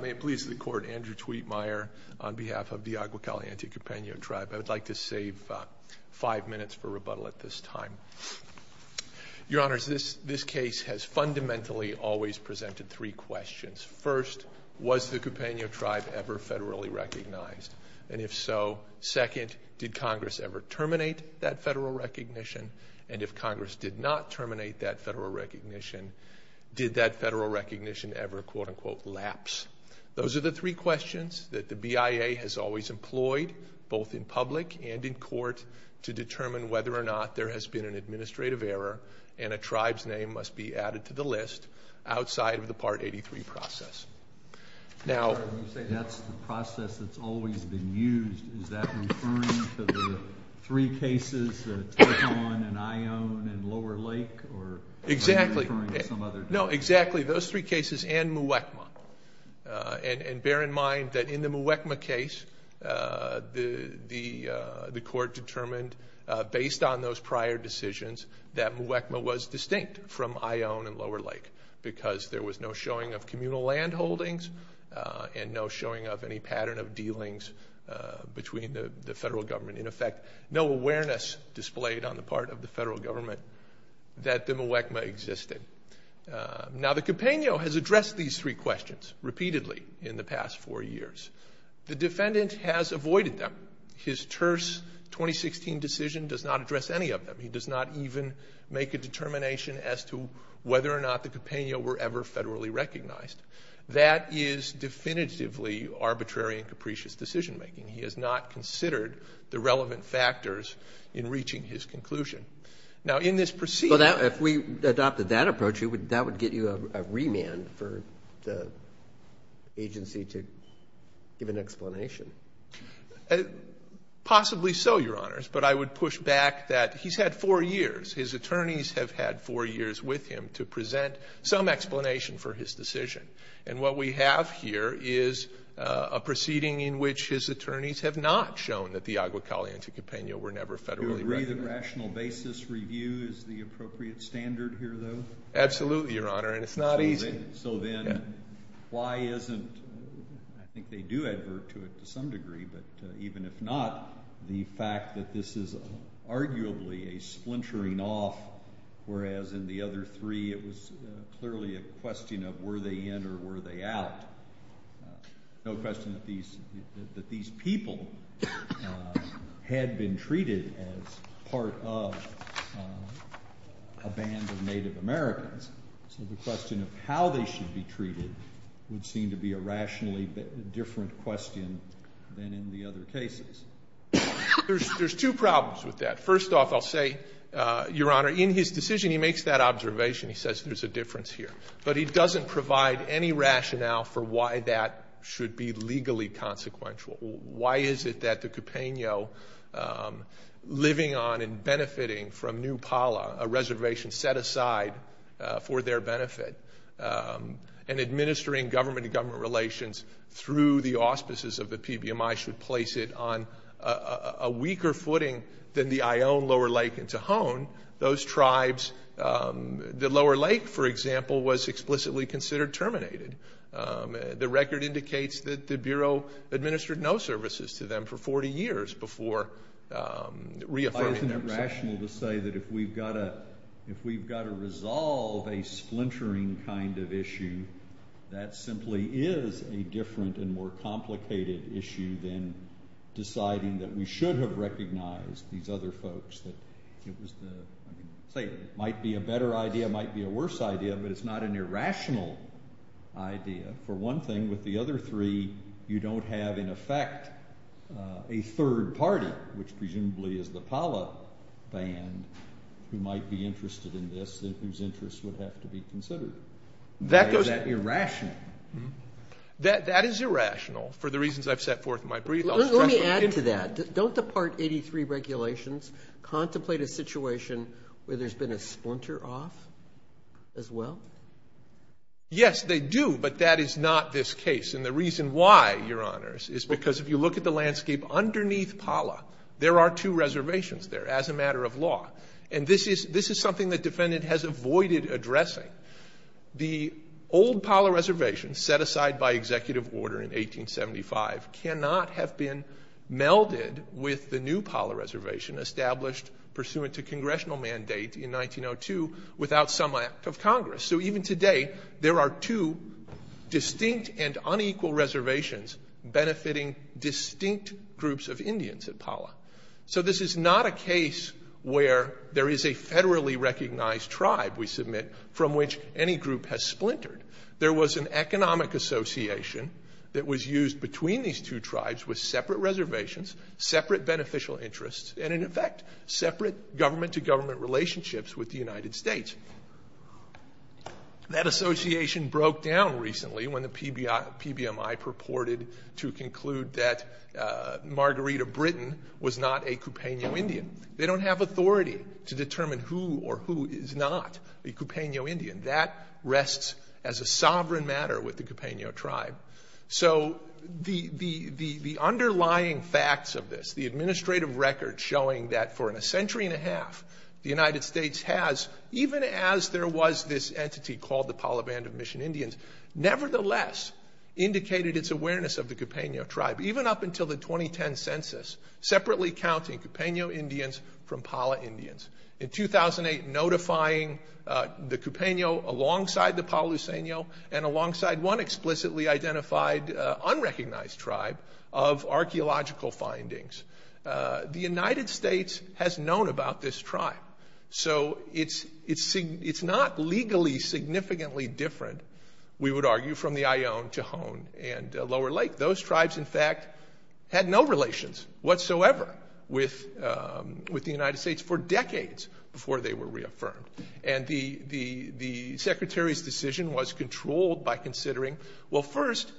May it please the Court, Andrew Tweetmeyer on behalf of the Agua Caliente Cupeno Tribe. I would like to save five minutes for rebuttal at this time. Your Honors, this case has fundamentally always presented three questions. First, was the Cupeno Tribe ever federally recognized, and if so, second, did Congress ever terminate that federal recognition, and if Congress did not terminate that federal recognition, did that federal recognition ever, quote-unquote, lapse? Those are the three questions that the BIA has always employed, both in public and in court, to determine whether or not there has been an administrative error and a tribe's name must be added to the list outside of the Part 83 process. Now, you say that's the process that's always been used. Is that referring to the three cases, Tecuan and Ione and Lower Lake, or are you referring to some other tribe? Exactly. No, exactly. Those three cases and Muwekma, and bear in mind that in the Muwekma case, the Court determined based on those prior decisions that Muwekma was distinct from Ione and Lower Lake because there was no showing of communal land holdings and no showing of any pattern of dealings between the federal government. In effect, no awareness displayed on the part of the federal government that the Muwekma existed. Now, the Cupeno has addressed these three questions repeatedly in the past four years. The defendant has avoided them. His terse 2016 decision does not address any of them. He does not even make a determination as to whether or not the Cupeno were ever federally recognized. That is definitively arbitrary and capricious decision-making. He has not considered the relevant factors in reaching his conclusion. Now, in this proceeding ---- Well, if we adopted that approach, that would get you a remand for the agency to give an explanation. Possibly so, Your Honors. But I would push back that he's had four years. His attorneys have had four years with him to present some explanation for his decision. And what we have here is a proceeding in which his attorneys have not shown that the Agua Caliente Cupeno were never federally recognized. Do you agree that rational basis review is the appropriate standard here, though? Absolutely, Your Honor, and it's not easy. So then why isn't ---- I think they do advert to it to some degree, but even if not, the fact that this is arguably a splintering off, whereas in the other three it was clearly a question of were they in or were they out. No question that these people had been treated as part of a band of Native Americans. So the question of how they should be treated would seem to be a rationally different question than in the other cases. There's two problems with that. First off, I'll say, Your Honor, in his decision he makes that observation. He says there's a difference here. But he doesn't provide any rationale for why that should be legally consequential. Why is it that the Cupeno, living on and benefiting from New Pala, a reservation set aside for their benefit, and administering government-to-government relations through the auspices of the PBMI, should place it on a weaker footing than the Ione, Lower Lake, and Tohon. Those tribes, the Lower Lake, for example, was explicitly considered terminated. The record indicates that the Bureau administered no services to them for 40 years before reaffirming that. Why isn't it rational to say that if we've got to resolve a splintering kind of issue, that simply is a different and more complicated issue than deciding that we should have recognized these other folks, that it might be a better idea, it might be a worse idea, but it's not an irrational idea. For one thing, with the other three, you don't have in effect a third party, which presumably is the Pala Band, who might be interested in this and whose interests would have to be considered. Why is that irrational? That is irrational for the reasons I've set forth in my brief. Let me add to that. Don't the Part 83 regulations contemplate a situation where there's been a splinter off as well? Yes, they do, but that is not this case. And the reason why, Your Honors, is because if you look at the landscape underneath Pala, there are two reservations there as a matter of law. And this is something the defendant has avoided addressing. The old Pala reservation set aside by executive order in 1875 cannot have been melded with the new Pala reservation established pursuant to congressional mandate in 1902 without some act of Congress. So even today, there are two distinct and unequal reservations benefiting distinct groups of Indians at Pala. So this is not a case where there is a federally recognized tribe, we submit, from which any group has splintered. There was an economic association that was used between these two tribes with separate reservations, separate beneficial interests, and, in effect, separate government-to-government relationships with the United States. That association broke down recently when the PBMI purported to conclude that Margarita Britain was not a Cupeno Indian. They don't have authority to determine who or who is not a Cupeno Indian. That rests as a sovereign matter with the Cupeno tribe. So the underlying facts of this, the administrative record showing that for a century and a half, the United States has, even as there was this entity called the Pala Band of Mission Indians, nevertheless indicated its awareness of the Cupeno tribe, even up until the 2010 census, separately counting Cupeno Indians from Pala Indians. In 2008, notifying the Cupeno alongside the Palo Seno and alongside one explicitly identified unrecognized tribe of archaeological findings. The United States has known about this tribe. So it's not legally significantly different, we would argue, from the Ione, Tohon, and Lower Lake. Those tribes, in fact, had no relations whatsoever with the United States for decades before they were reaffirmed. And the Secretary's decision was controlled by considering, well, first,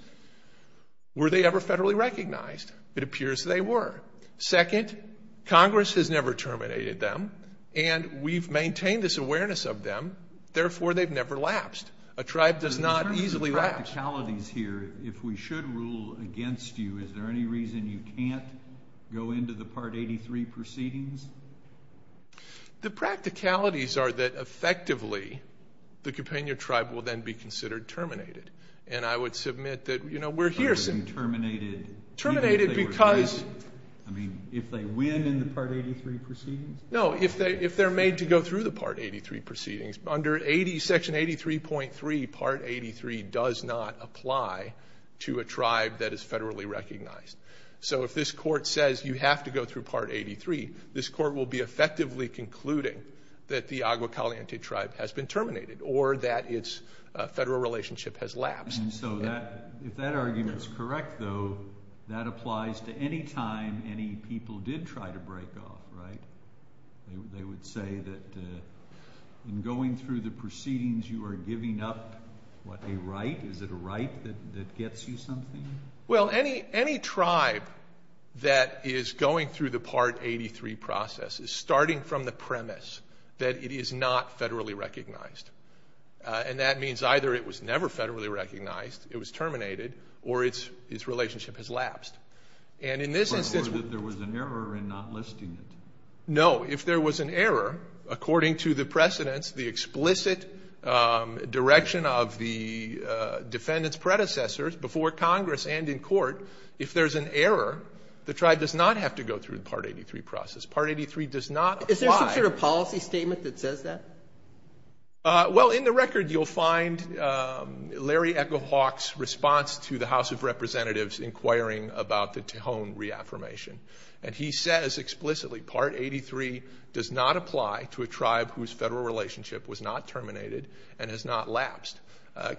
were they ever federally recognized? It appears they were. Second, Congress has never terminated them, and we've maintained this awareness of them, therefore they've never lapsed. A tribe does not easily lapse. In terms of the practicalities here, if we should rule against you, is there any reason you can't go into the Part 83 proceedings? The practicalities are that, effectively, the Cupeno tribe will then be considered terminated. And I would submit that, you know, we're here. Terminated because? I mean, if they win in the Part 83 proceedings? No, if they're made to go through the Part 83 proceedings. Under Section 83.3, Part 83 does not apply to a tribe that is federally recognized. So if this court says you have to go through Part 83, this court will be effectively concluding that the Agua Caliente tribe has been terminated, or that its federal relationship has lapsed. And so if that argument is correct, though, that applies to any time any people did try to break off, right? They would say that in going through the proceedings, you are giving up, what, a right? Is it a right that gets you something? Well, any tribe that is going through the Part 83 process is starting from the premise that it is not federally recognized. And that means either it was never federally recognized, it was terminated, or its relationship has lapsed. And in this instance. Or that there was an error in not listing it. No, if there was an error, according to the precedents, the explicit direction of the defendant's predecessors, before Congress and in court, if there's an error, the tribe does not have to go through the Part 83 process. Part 83 does not apply. Is there some sort of policy statement that says that? Well, in the record, you'll find Larry Echo Hawk's response to the House of Representatives inquiring about the Tejon reaffirmation. And he says explicitly, Part 83 does not apply to a tribe whose federal relationship was not terminated and has not lapsed.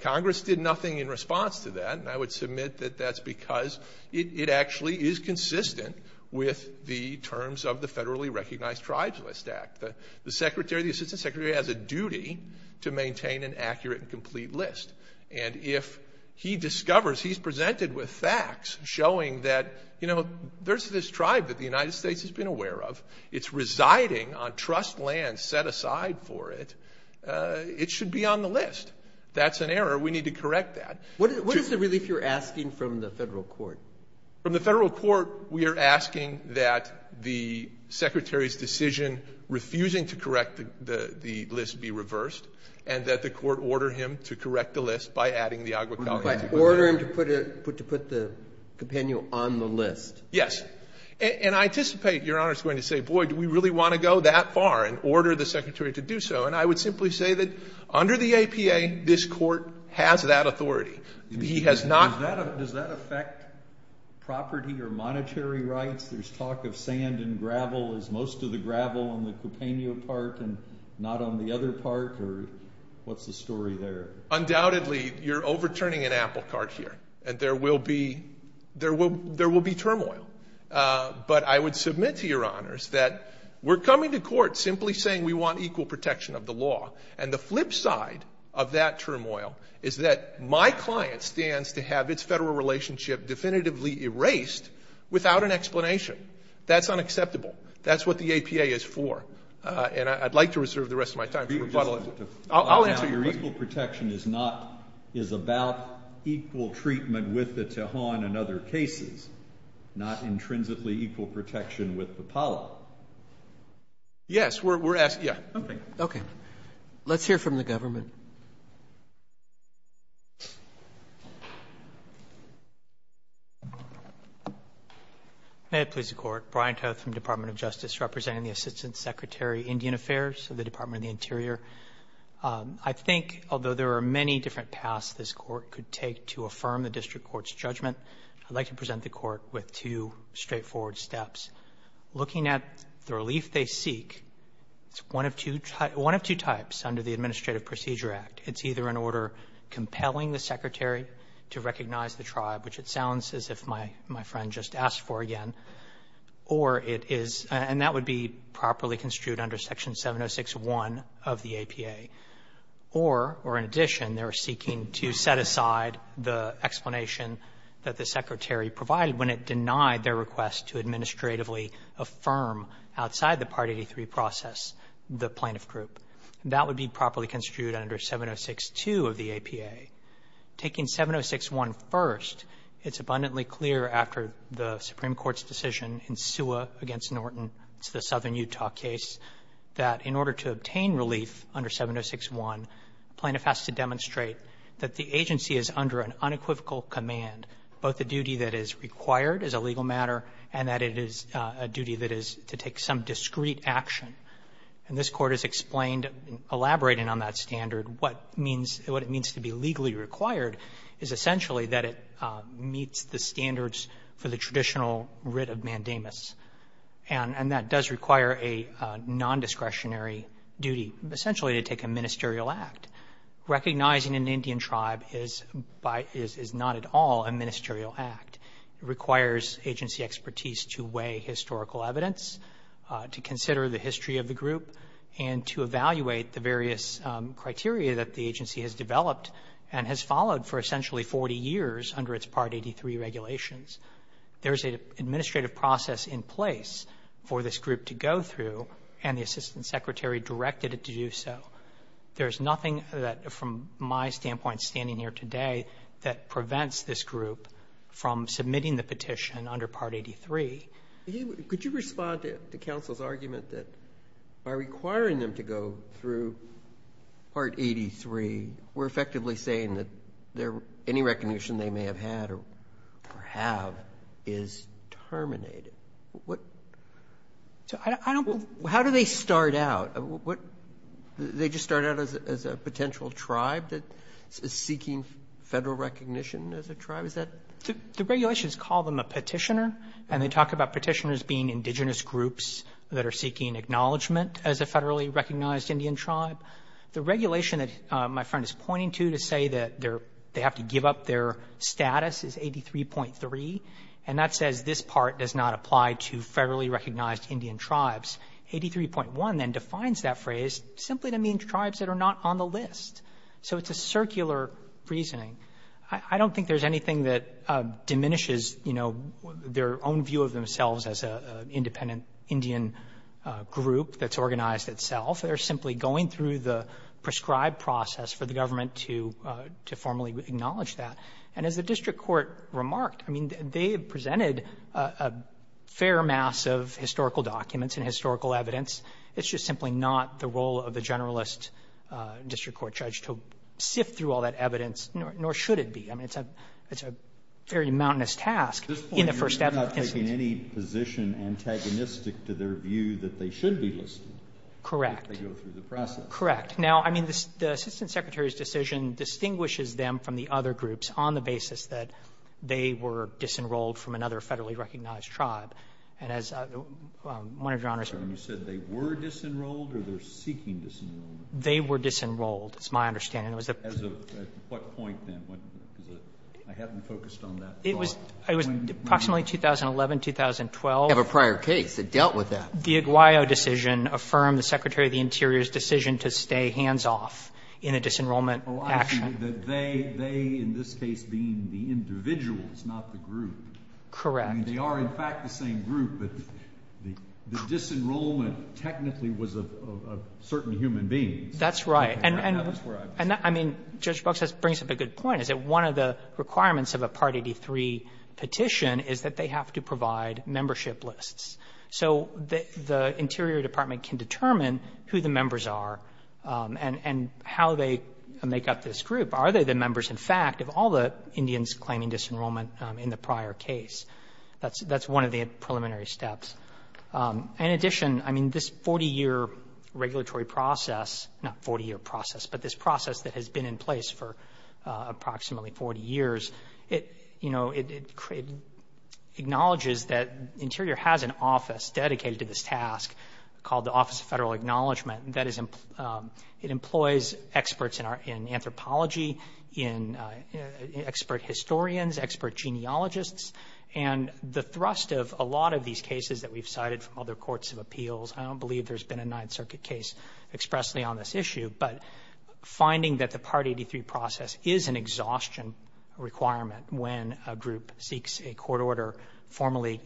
Congress did nothing in response to that. And I would submit that that's because it actually is consistent with the terms of the Federally Recognized Tribes List Act. The secretary, the assistant secretary, has a duty to maintain an accurate and complete list. And if he discovers he's presented with facts showing that, you know, there's this tribe that the United States has been aware of, it's residing on trust lands set aside for it, it should be on the list. That's an error. We need to correct that. What is the relief you're asking from the Federal court? From the Federal court, we are asking that the secretary's decision refusing to correct the list be reversed, and that the court order him to correct the list by adding the aguacate to the list. Order him to put the compendium on the list. Yes. And I anticipate, Your Honor, it's going to say, boy, do we really want to go that far and order the secretary to do so. And I would simply say that under the APA, this court has that authority. He has not. Does that affect property or monetary rights? There's talk of sand and gravel. Is most of the gravel on the Cupeno part and not on the other part? Or what's the story there? Undoubtedly, you're overturning an apple cart here. And there will be turmoil. But I would submit to Your Honors that we're coming to court simply saying we want equal protection of the law. And the flip side of that turmoil is that my client stands to have its Federal relationship definitively erased without an explanation. That's unacceptable. That's what the APA is for. And I'd like to reserve the rest of my time for rebuttal. I'll answer your question. Your equal protection is not ñ is about equal treatment with the Tejon and other cases, not intrinsically equal protection with the Palo. Yes. We're asking ñ yeah. Okay. Let's hear from the government. May it please the Court. Brian Toth from the Department of Justice, representing the Assistant Secretary, Indian Affairs of the Department of the Interior. I think, although there are many different paths this Court could take to affirm the district court's judgment, I'd like to present the Court with two straightforward steps. Looking at the relief they seek, it's one of two ñ one of two types under the Administrative Procedure Act. It's either an order compelling the Secretary to recognize the tribe, which it sounds as if my friend just asked for again, or it is ñ and that would be properly construed under Section 706.1 of the APA. Or, or in addition, they're seeking to set aside the explanation that the Secretary provided when it denied their request to administratively affirm outside the Part 83 process the plaintiff group. That would be properly construed under 706.2 of the APA. Taking 706.1 first, it's abundantly clear after the Supreme Court's decision in Sua v. Norton, it's the southern Utah case, that in order to obtain relief under 706.1, plaintiff has to demonstrate that the agency is under an unequivocal command, both the duty that is required as a legal matter and that it is a duty that is to take some discreet action. And this Court has explained, elaborating on that standard, what means ñ what it means to be legally required is essentially that it meets the standards for the traditional writ of mandamus. And that does require a nondiscretionary duty, essentially to take a ministerial act. Recognizing an Indian tribe is by ñ is not at all a ministerial act. It requires agency expertise to weigh historical evidence, to consider the history of the group, and to evaluate the various criteria that the agency has developed and has followed for essentially 40 years under its Part 83 regulations. There's an administrative process in place for this group to go through, and the Assistant Secretary directed it to do so. There's nothing that, from my standpoint standing here today, that prevents this group from submitting the petition under Part 83. Roberts. Could you respond to counsel's argument that by requiring them to go through Part 83, we're effectively saying that any recognition they may have had or have is terminated? What ñ I don't ñ How do they start out? What ñ they just start out as a potential tribe that is seeking Federal recognition as a tribe? Is that ñ The regulations call them a petitioner, and they talk about petitioners being indigenous groups that are seeking acknowledgment as a Federally recognized Indian tribe. The regulation that my friend is pointing to to say that they have to give up their status is 83.3, and that says this part does not apply to Federally recognized Indian tribes. 83.1 then defines that phrase simply to mean tribes that are not on the list. So it's a circular reasoning. I don't think there's anything that diminishes, you know, their own view of themselves as an independent Indian group that's organized itself. They're simply going through the prescribed process for the government to formally acknowledge that. And as the district court remarked, I mean, they presented a fair mass of historical documents and historical evidence. It's just simply not the role of the generalist district court judge to sift through all that evidence, nor should it be. I mean, it's a ñ it's a very mountainous task in the first ever instance. Kennedy, you're not taking any position antagonistic to their view that they should be listed. Correct. If they go through the process. Correct. Now, I mean, the Assistant Secretary's decision distinguishes them from the other groups on the basis that they were disenrolled from another Federally recognized tribe. And as one of Your Honor's ñ You said they were disenrolled or they're seeking disenrollment? They were disenrolled, is my understanding. It was the ñ As of what point then? I haven't focused on that. It was ñ it was approximately 2011, 2012. You have a prior case that dealt with that. The Aguayo decision affirmed the Secretary of the Interior's decision to stay hands off in a disenrollment action. Well, I see that they, in this case, being the individuals, not the group. Correct. I mean, they are, in fact, the same group, but the ñ the disenrollment technically was of certain human beings. That's right. And I mean, Judge Brooks brings up a good point, is that one of the requirements of a Part 83 petition is that they have to provide membership lists. So the Interior Department can determine who the members are and how they make up this group. Are they the members, in fact, of all the Indians claiming disenrollment in the prior case? That's one of the preliminary steps. In addition, I mean, this 40-year regulatory process ñ not 40-year process, but this process that has been in place for approximately 40 years, it ñ you know, it acknowledges that Interior has an office dedicated to this task called the Office of Federal Acknowledgement. That is ñ it employs experts in anthropology, in ñ expert historians, expert genealogists, and the thrust of a lot of these cases that we've cited from other courts of appeals ñ I don't believe there's been a Ninth Circuit case expressly on this issue, but finding that the Part 83 process is an exhaustion requirement when a group seeks a court order formally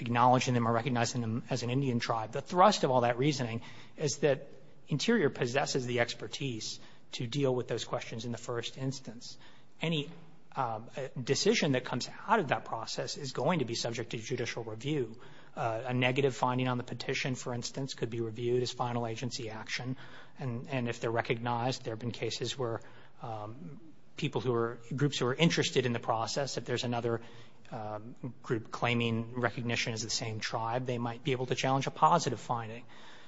acknowledging them or recognizing them as an Indian tribe, the thrust of all that reasoning is that Interior possesses the expertise to deal with those questions in the first instance. Any decision that comes out of that process is going to be subject to judicial review. A negative finding on the petition, for instance, could be reviewed as final agency action, and if they're recognized, there have been cases where people who were ñ groups who were interested in the process, if there's another group claiming recognition as the same tribe, they might be able to challenge a positive finding.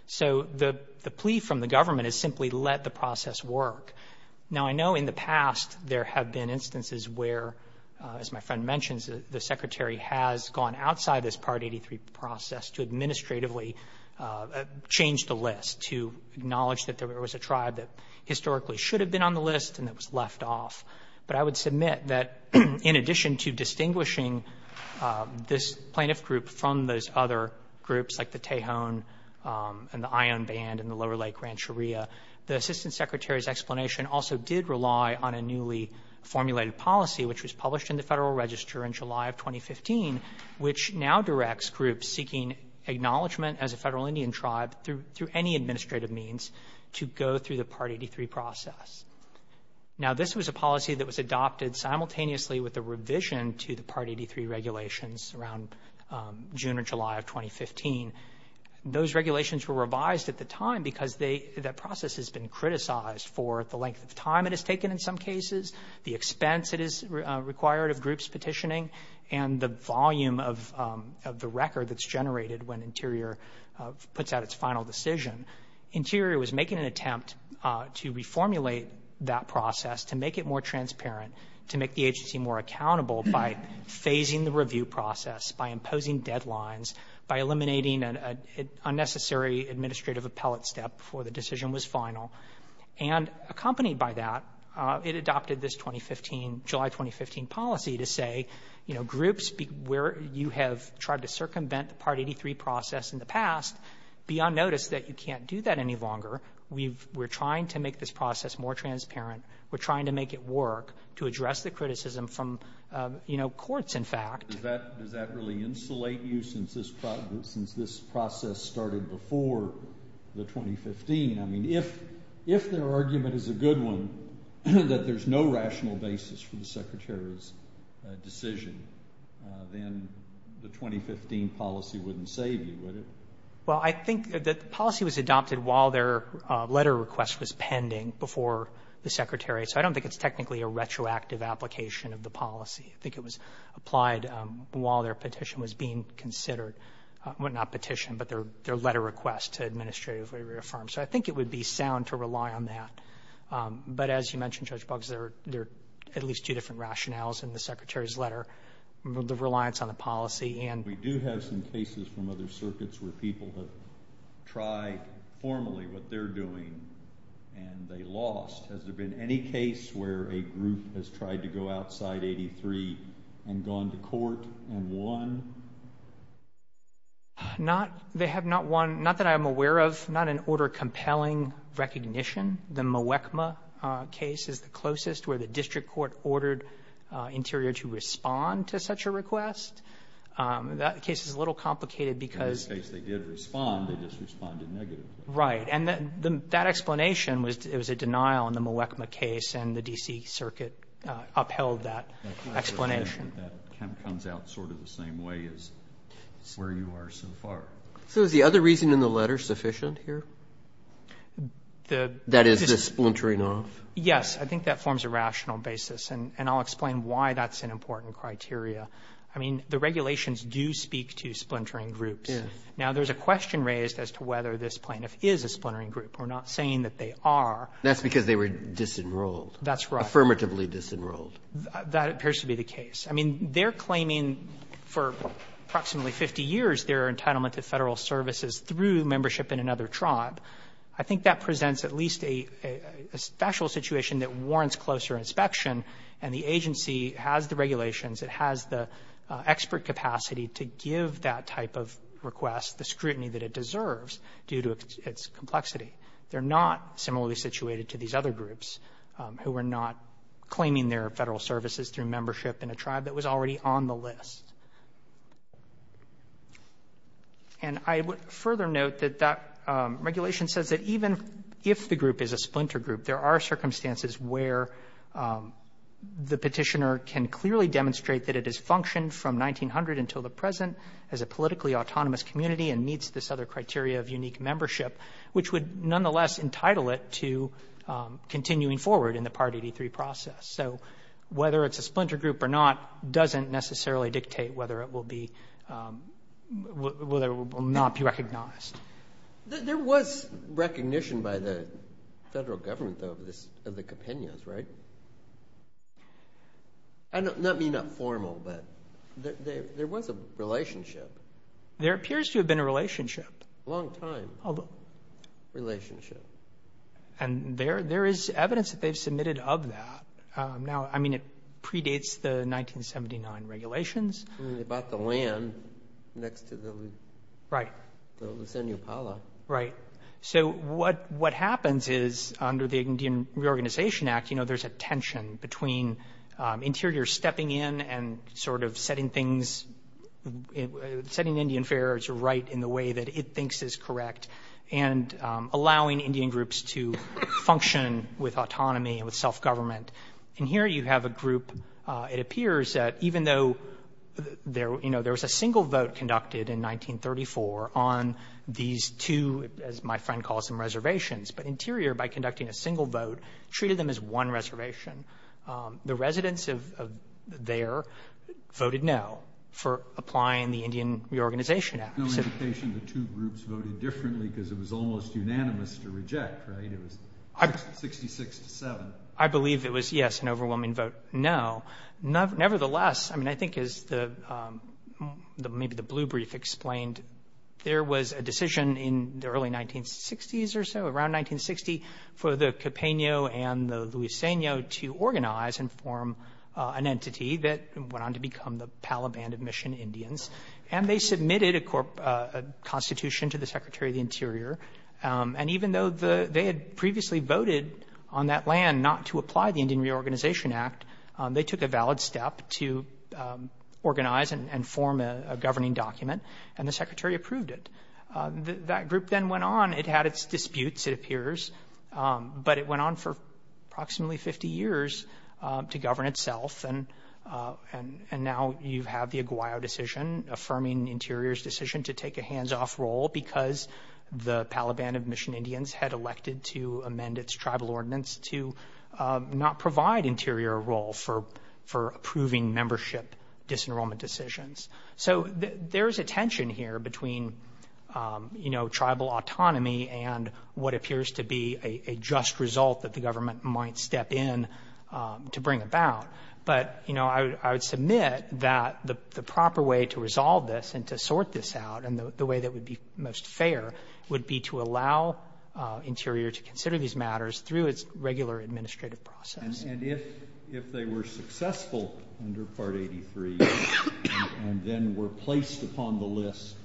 So the plea from the government is simply let the process work. Now, I know in the past there have been instances where, as my friend mentions, the Secretary has gone outside this Part 83 process to administratively change the list, to acknowledge that there was a tribe that historically should have been on the list and that was left off. But I would submit that in addition to distinguishing this plaintiff group from those other groups, like the Tejon and the Ion Band and the Lower Lake Rancheria, the Assistant Secretary's explanation also did rely on a newly formulated policy, which was published in the Federal Register in July of 2015, which now directs groups seeking acknowledgment as a Federal Indian tribe through any administrative means to go through the Part 83 process. Now, this was a policy that was adopted simultaneously with a revision to the Part 83 regulations around June or July of 2015. Those regulations were revised at the time because that process has been criticized for the length of time it has taken in some cases, the expense it is required of groups petitioning, and the volume of the record that's generated when Interior puts out its final decision. Interior was making an attempt to reformulate that process, to make it more transparent, to make the agency more accountable by phasing the review process, by imposing deadlines, by eliminating an unnecessary administrative appellate step before the decision was final. And accompanied by that, it adopted this 2015, July 2015 policy to say, you know, groups where you have tried to circumvent the Part 83 process in the past, be on notice that you can't do that any longer. We've we're trying to make this process more transparent. We're trying to make it work to address the criticism from, you know, courts, in fact. Does that really insulate you since this process started before the 2015? I mean, if their argument is a good one, that there's no rational basis for the Secretary's decision, then the 2015 policy wouldn't save you, would it? Well, I think that the policy was adopted while their letter request was pending before the Secretary. So I don't think it's technically a retroactive application of the policy. I think it was applied while their petition was being considered. Well, not petition, but their letter request to administratively reaffirm. So I think it would be sound to rely on that. But as you mentioned, Judge Boggs, there are at least two different rationales in the Secretary's letter. The reliance on the policy and. We do have some cases from other circuits where people have tried formally what they're doing and they lost. Has there been any case where a group has tried to go outside 83 and gone to court and won? Not. They have not won, not that I'm aware of, not in order of compelling recognition. The Mwekma case is the closest where the district court ordered Interior to respond to such a request. That case is a little complicated because. In this case, they did respond. They just responded negatively. Right. And that explanation was it was a denial in the Mwekma case and the D.C. Circuit upheld that explanation. That comes out sort of the same way as where you are so far. So is the other reason in the letter sufficient here? The. That is the splintering off. Yes. I think that forms a rational basis. And I'll explain why that's an important criteria. I mean, the regulations do speak to splintering groups. Now, there's a question raised as to whether this plaintiff is a splintering group. We're not saying that they are. That's because they were disenrolled. That's right. Affirmatively disenrolled. That appears to be the case. I mean, they're claiming for approximately 50 years their entitlement to Federal services through membership in another tribe. I think that presents at least a special situation that warrants closer inspection. And the agency has the regulations. It has the expert capacity to give that type of request the scrutiny that it deserves due to its complexity. They're not similarly situated to these other groups who are not claiming their Federal services through membership in a tribe that was already on the list. And I would further note that that regulation says that even if the group is a splinter group, there are circumstances where the Petitioner can clearly demonstrate that it has functioned from 1900 until the present as a politically autonomous community and meets this other criteria of unique membership, which would nonetheless entitle it to continuing forward in the Part 83 process. So whether it's a splinter group or not doesn't necessarily dictate whether it will be, whether it will not be recognized. There was recognition by the Federal government of this, of the Quipinos, right? I don't mean that formal, but there was a relationship. There appears to have been a relationship. A long time relationship. And there is evidence that they've submitted of that. Now, I mean, it predates the 1979 regulations. They bought the land next to the Luzania Pala. Right. So what happens is, under the Indian Reorganization Act, there's a tension between interiors stepping in and sort of setting things, setting Indian affairs right in the way that it thinks is correct and allowing Indian groups to function with autonomy and with self-government. And here you have a group, it appears that even though there was a single vote conducted in 1934 on these two, as my friend calls them, reservations, but interior, by conducting a single vote, treated them as one reservation, the residents of there voted no for applying the Indian Reorganization Act. So the two groups voted differently because it was almost unanimous to reject, right? It was 66 to 7. I believe it was, yes, an overwhelming vote no. Nevertheless, I mean, I think as maybe the blue brief explained, there was a decision in the early 1960s or so, around 1960, for the Copeno and the Luzania to organize and form an entity that went on to become the Palaband of Mission Indians. And they submitted a constitution to the Secretary of the Interior. And even though they had previously voted on that land not to apply the Indian Reorganization Act, they took a valid step to organize and form a governing document, and the Secretary approved it. That group then went on. It had its disputes, it appears, but it went on for approximately 50 years to govern itself. And now you have the Aguayo decision affirming Interior's decision to take a hands-off role because the Palaband of Mission Indians had elected to amend its tribal ordinance to not provide Interior a role for approving membership disenrollment decisions. So there is a tension here between, you know, tribal autonomy and what appears to be a just result that the government might step in to bring about. But you know, I would submit that the proper way to resolve this and to sort this out, and the way that would be most fair, would be to allow Interior to consider these matters through its regular administrative process. And if they were successful under Part 83 and then were placed upon the list,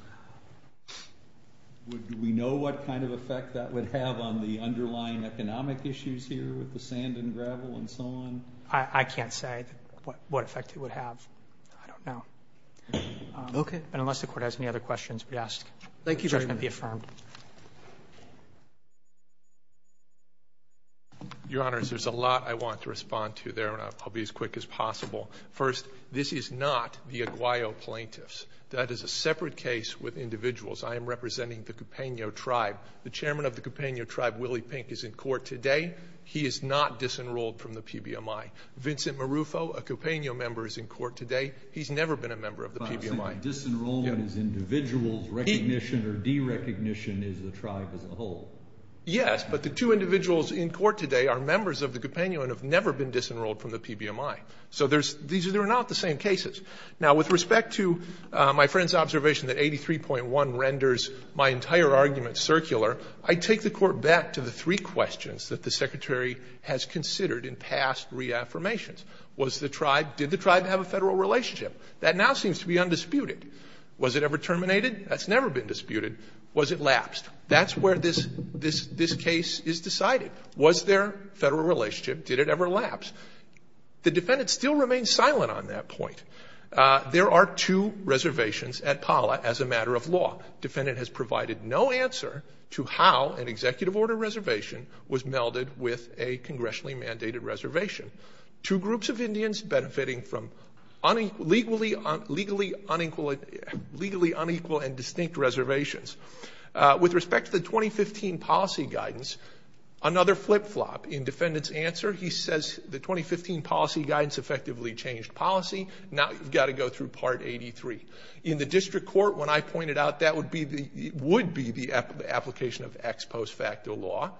do we know what kind of effect that would have on the underlying economic issues here with the sand and gravel and so on? I can't say what effect it would have. I don't know. Okay. And unless the Court has any other questions, we ask that judgment be affirmed. Your Honors, there's a lot I want to respond to there, and I'll be as quick as possible. First, this is not the Aguayo plaintiffs. That is a separate case with individuals. I am representing the Cupeno Tribe. The Chairman of the Cupeno Tribe, Willie Pink, is in court today. He is not disenrolled from the PBMI. Vincent Marufo, a Cupeno member, is in court today. He's never been a member of the PBMI. Yes, but the two individuals in court today are members of the Cupeno and have never been disenrolled from the PBMI. So these are not the same cases. Now with respect to my friend's observation that 83.1 renders my entire argument circular, I take the Court back to the three questions that the Secretary has considered in past reaffirmations. Was the tribe, did the tribe have a federal relationship? That now seems to be undisputed. Was it ever terminated? That's never been disputed. Was it lapsed? That's where this case is decided. Was there a federal relationship? Did it ever lapse? The defendant still remains silent on that point. There are two reservations at Pala as a matter of law. Defendant has provided no answer to how an executive order reservation was melded with a congressionally mandated reservation. Two groups of Indians benefiting from legally unequal and distinct reservations. With respect to the 2015 policy guidance, another flip-flop in defendant's answer, he says the 2015 policy guidance effectively changed policy. Now you've got to go through Part 83. In the district court, when I pointed out that would be the application of ex post facto law,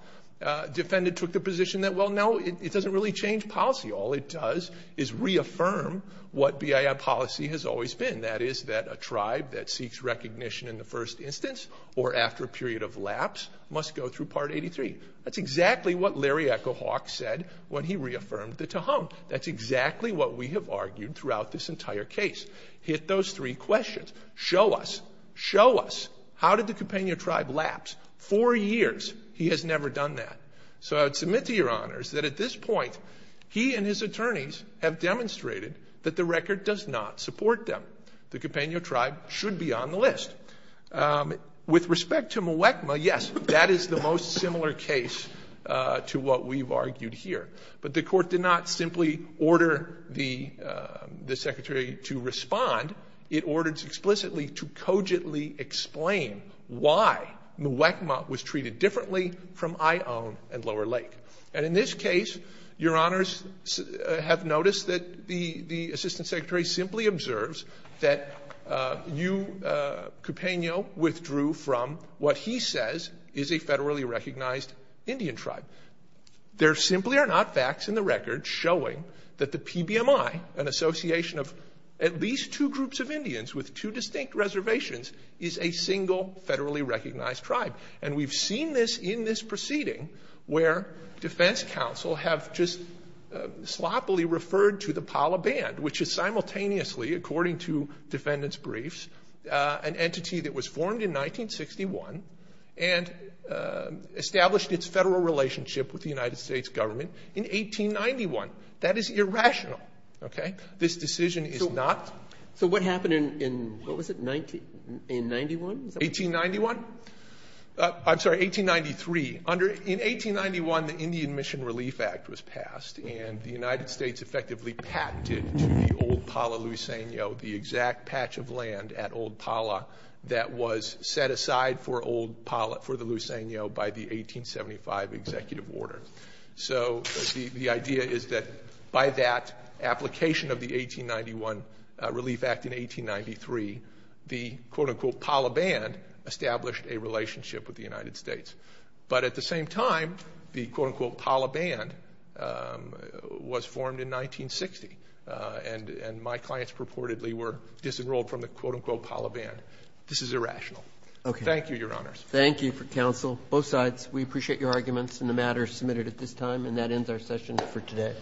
defendant took the position that, well, no, it doesn't really change policy. All it does is reaffirm what BIA policy has always been. That is that a tribe that seeks recognition in the first instance or after a period of lapse must go through Part 83. That's exactly what Larry Echo-Hawk said when he reaffirmed the Tehum. That's exactly what we have argued throughout this entire case. Hit those three questions. Show us, show us, how did the Compania tribe lapse? Four years, he has never done that. So I would submit to your honors that at this point, he and his attorneys have demonstrated that the record does not support them. The Compania tribe should be on the list. With respect to Muwekma, yes, that is the most similar case to what we've argued here. But the court did not simply order the secretary to respond. It ordered explicitly to cogently explain why Muwekma was treated differently from Ion and Lower Lake. And in this case, your honors have noticed that the assistant secretary simply observes that you, Compania, withdrew from what he says is a federally recognized Indian tribe. There simply are not facts in the record showing that the PBMI, an association of at least two groups of Indians with two distinct reservations, is a single federally recognized tribe. And we've seen this in this proceeding where defense counsel have just sloppily referred to the Palaband, which is simultaneously, according to defendants' briefs, an entity that was formed in 1961 and established its federal relationship with the United States government in 1891. That is irrational, okay? This decision is not- So what happened in, what was it, in 91? 1891? I'm sorry, 1893. In 1891, the Indian Mission Relief Act was passed, and the United States effectively patented to the Old Pala, Luiseno, the exact patch of land at Old Pala that was set aside for Old Pala, for the Luiseno by the 1875 executive order. So the idea is that by that application of the 1891 Relief Act in 1893, the, quote-unquote, Palaband established a relationship with the United States. But at the same time, the, quote-unquote, Palaband was formed in 1960, and my clients purportedly were disenrolled from the, quote-unquote, Palaband. This is irrational. Thank you, Your Honors. Thank you for counsel. Both sides, we appreciate your arguments and the matters submitted at this time, and that ends our session for today.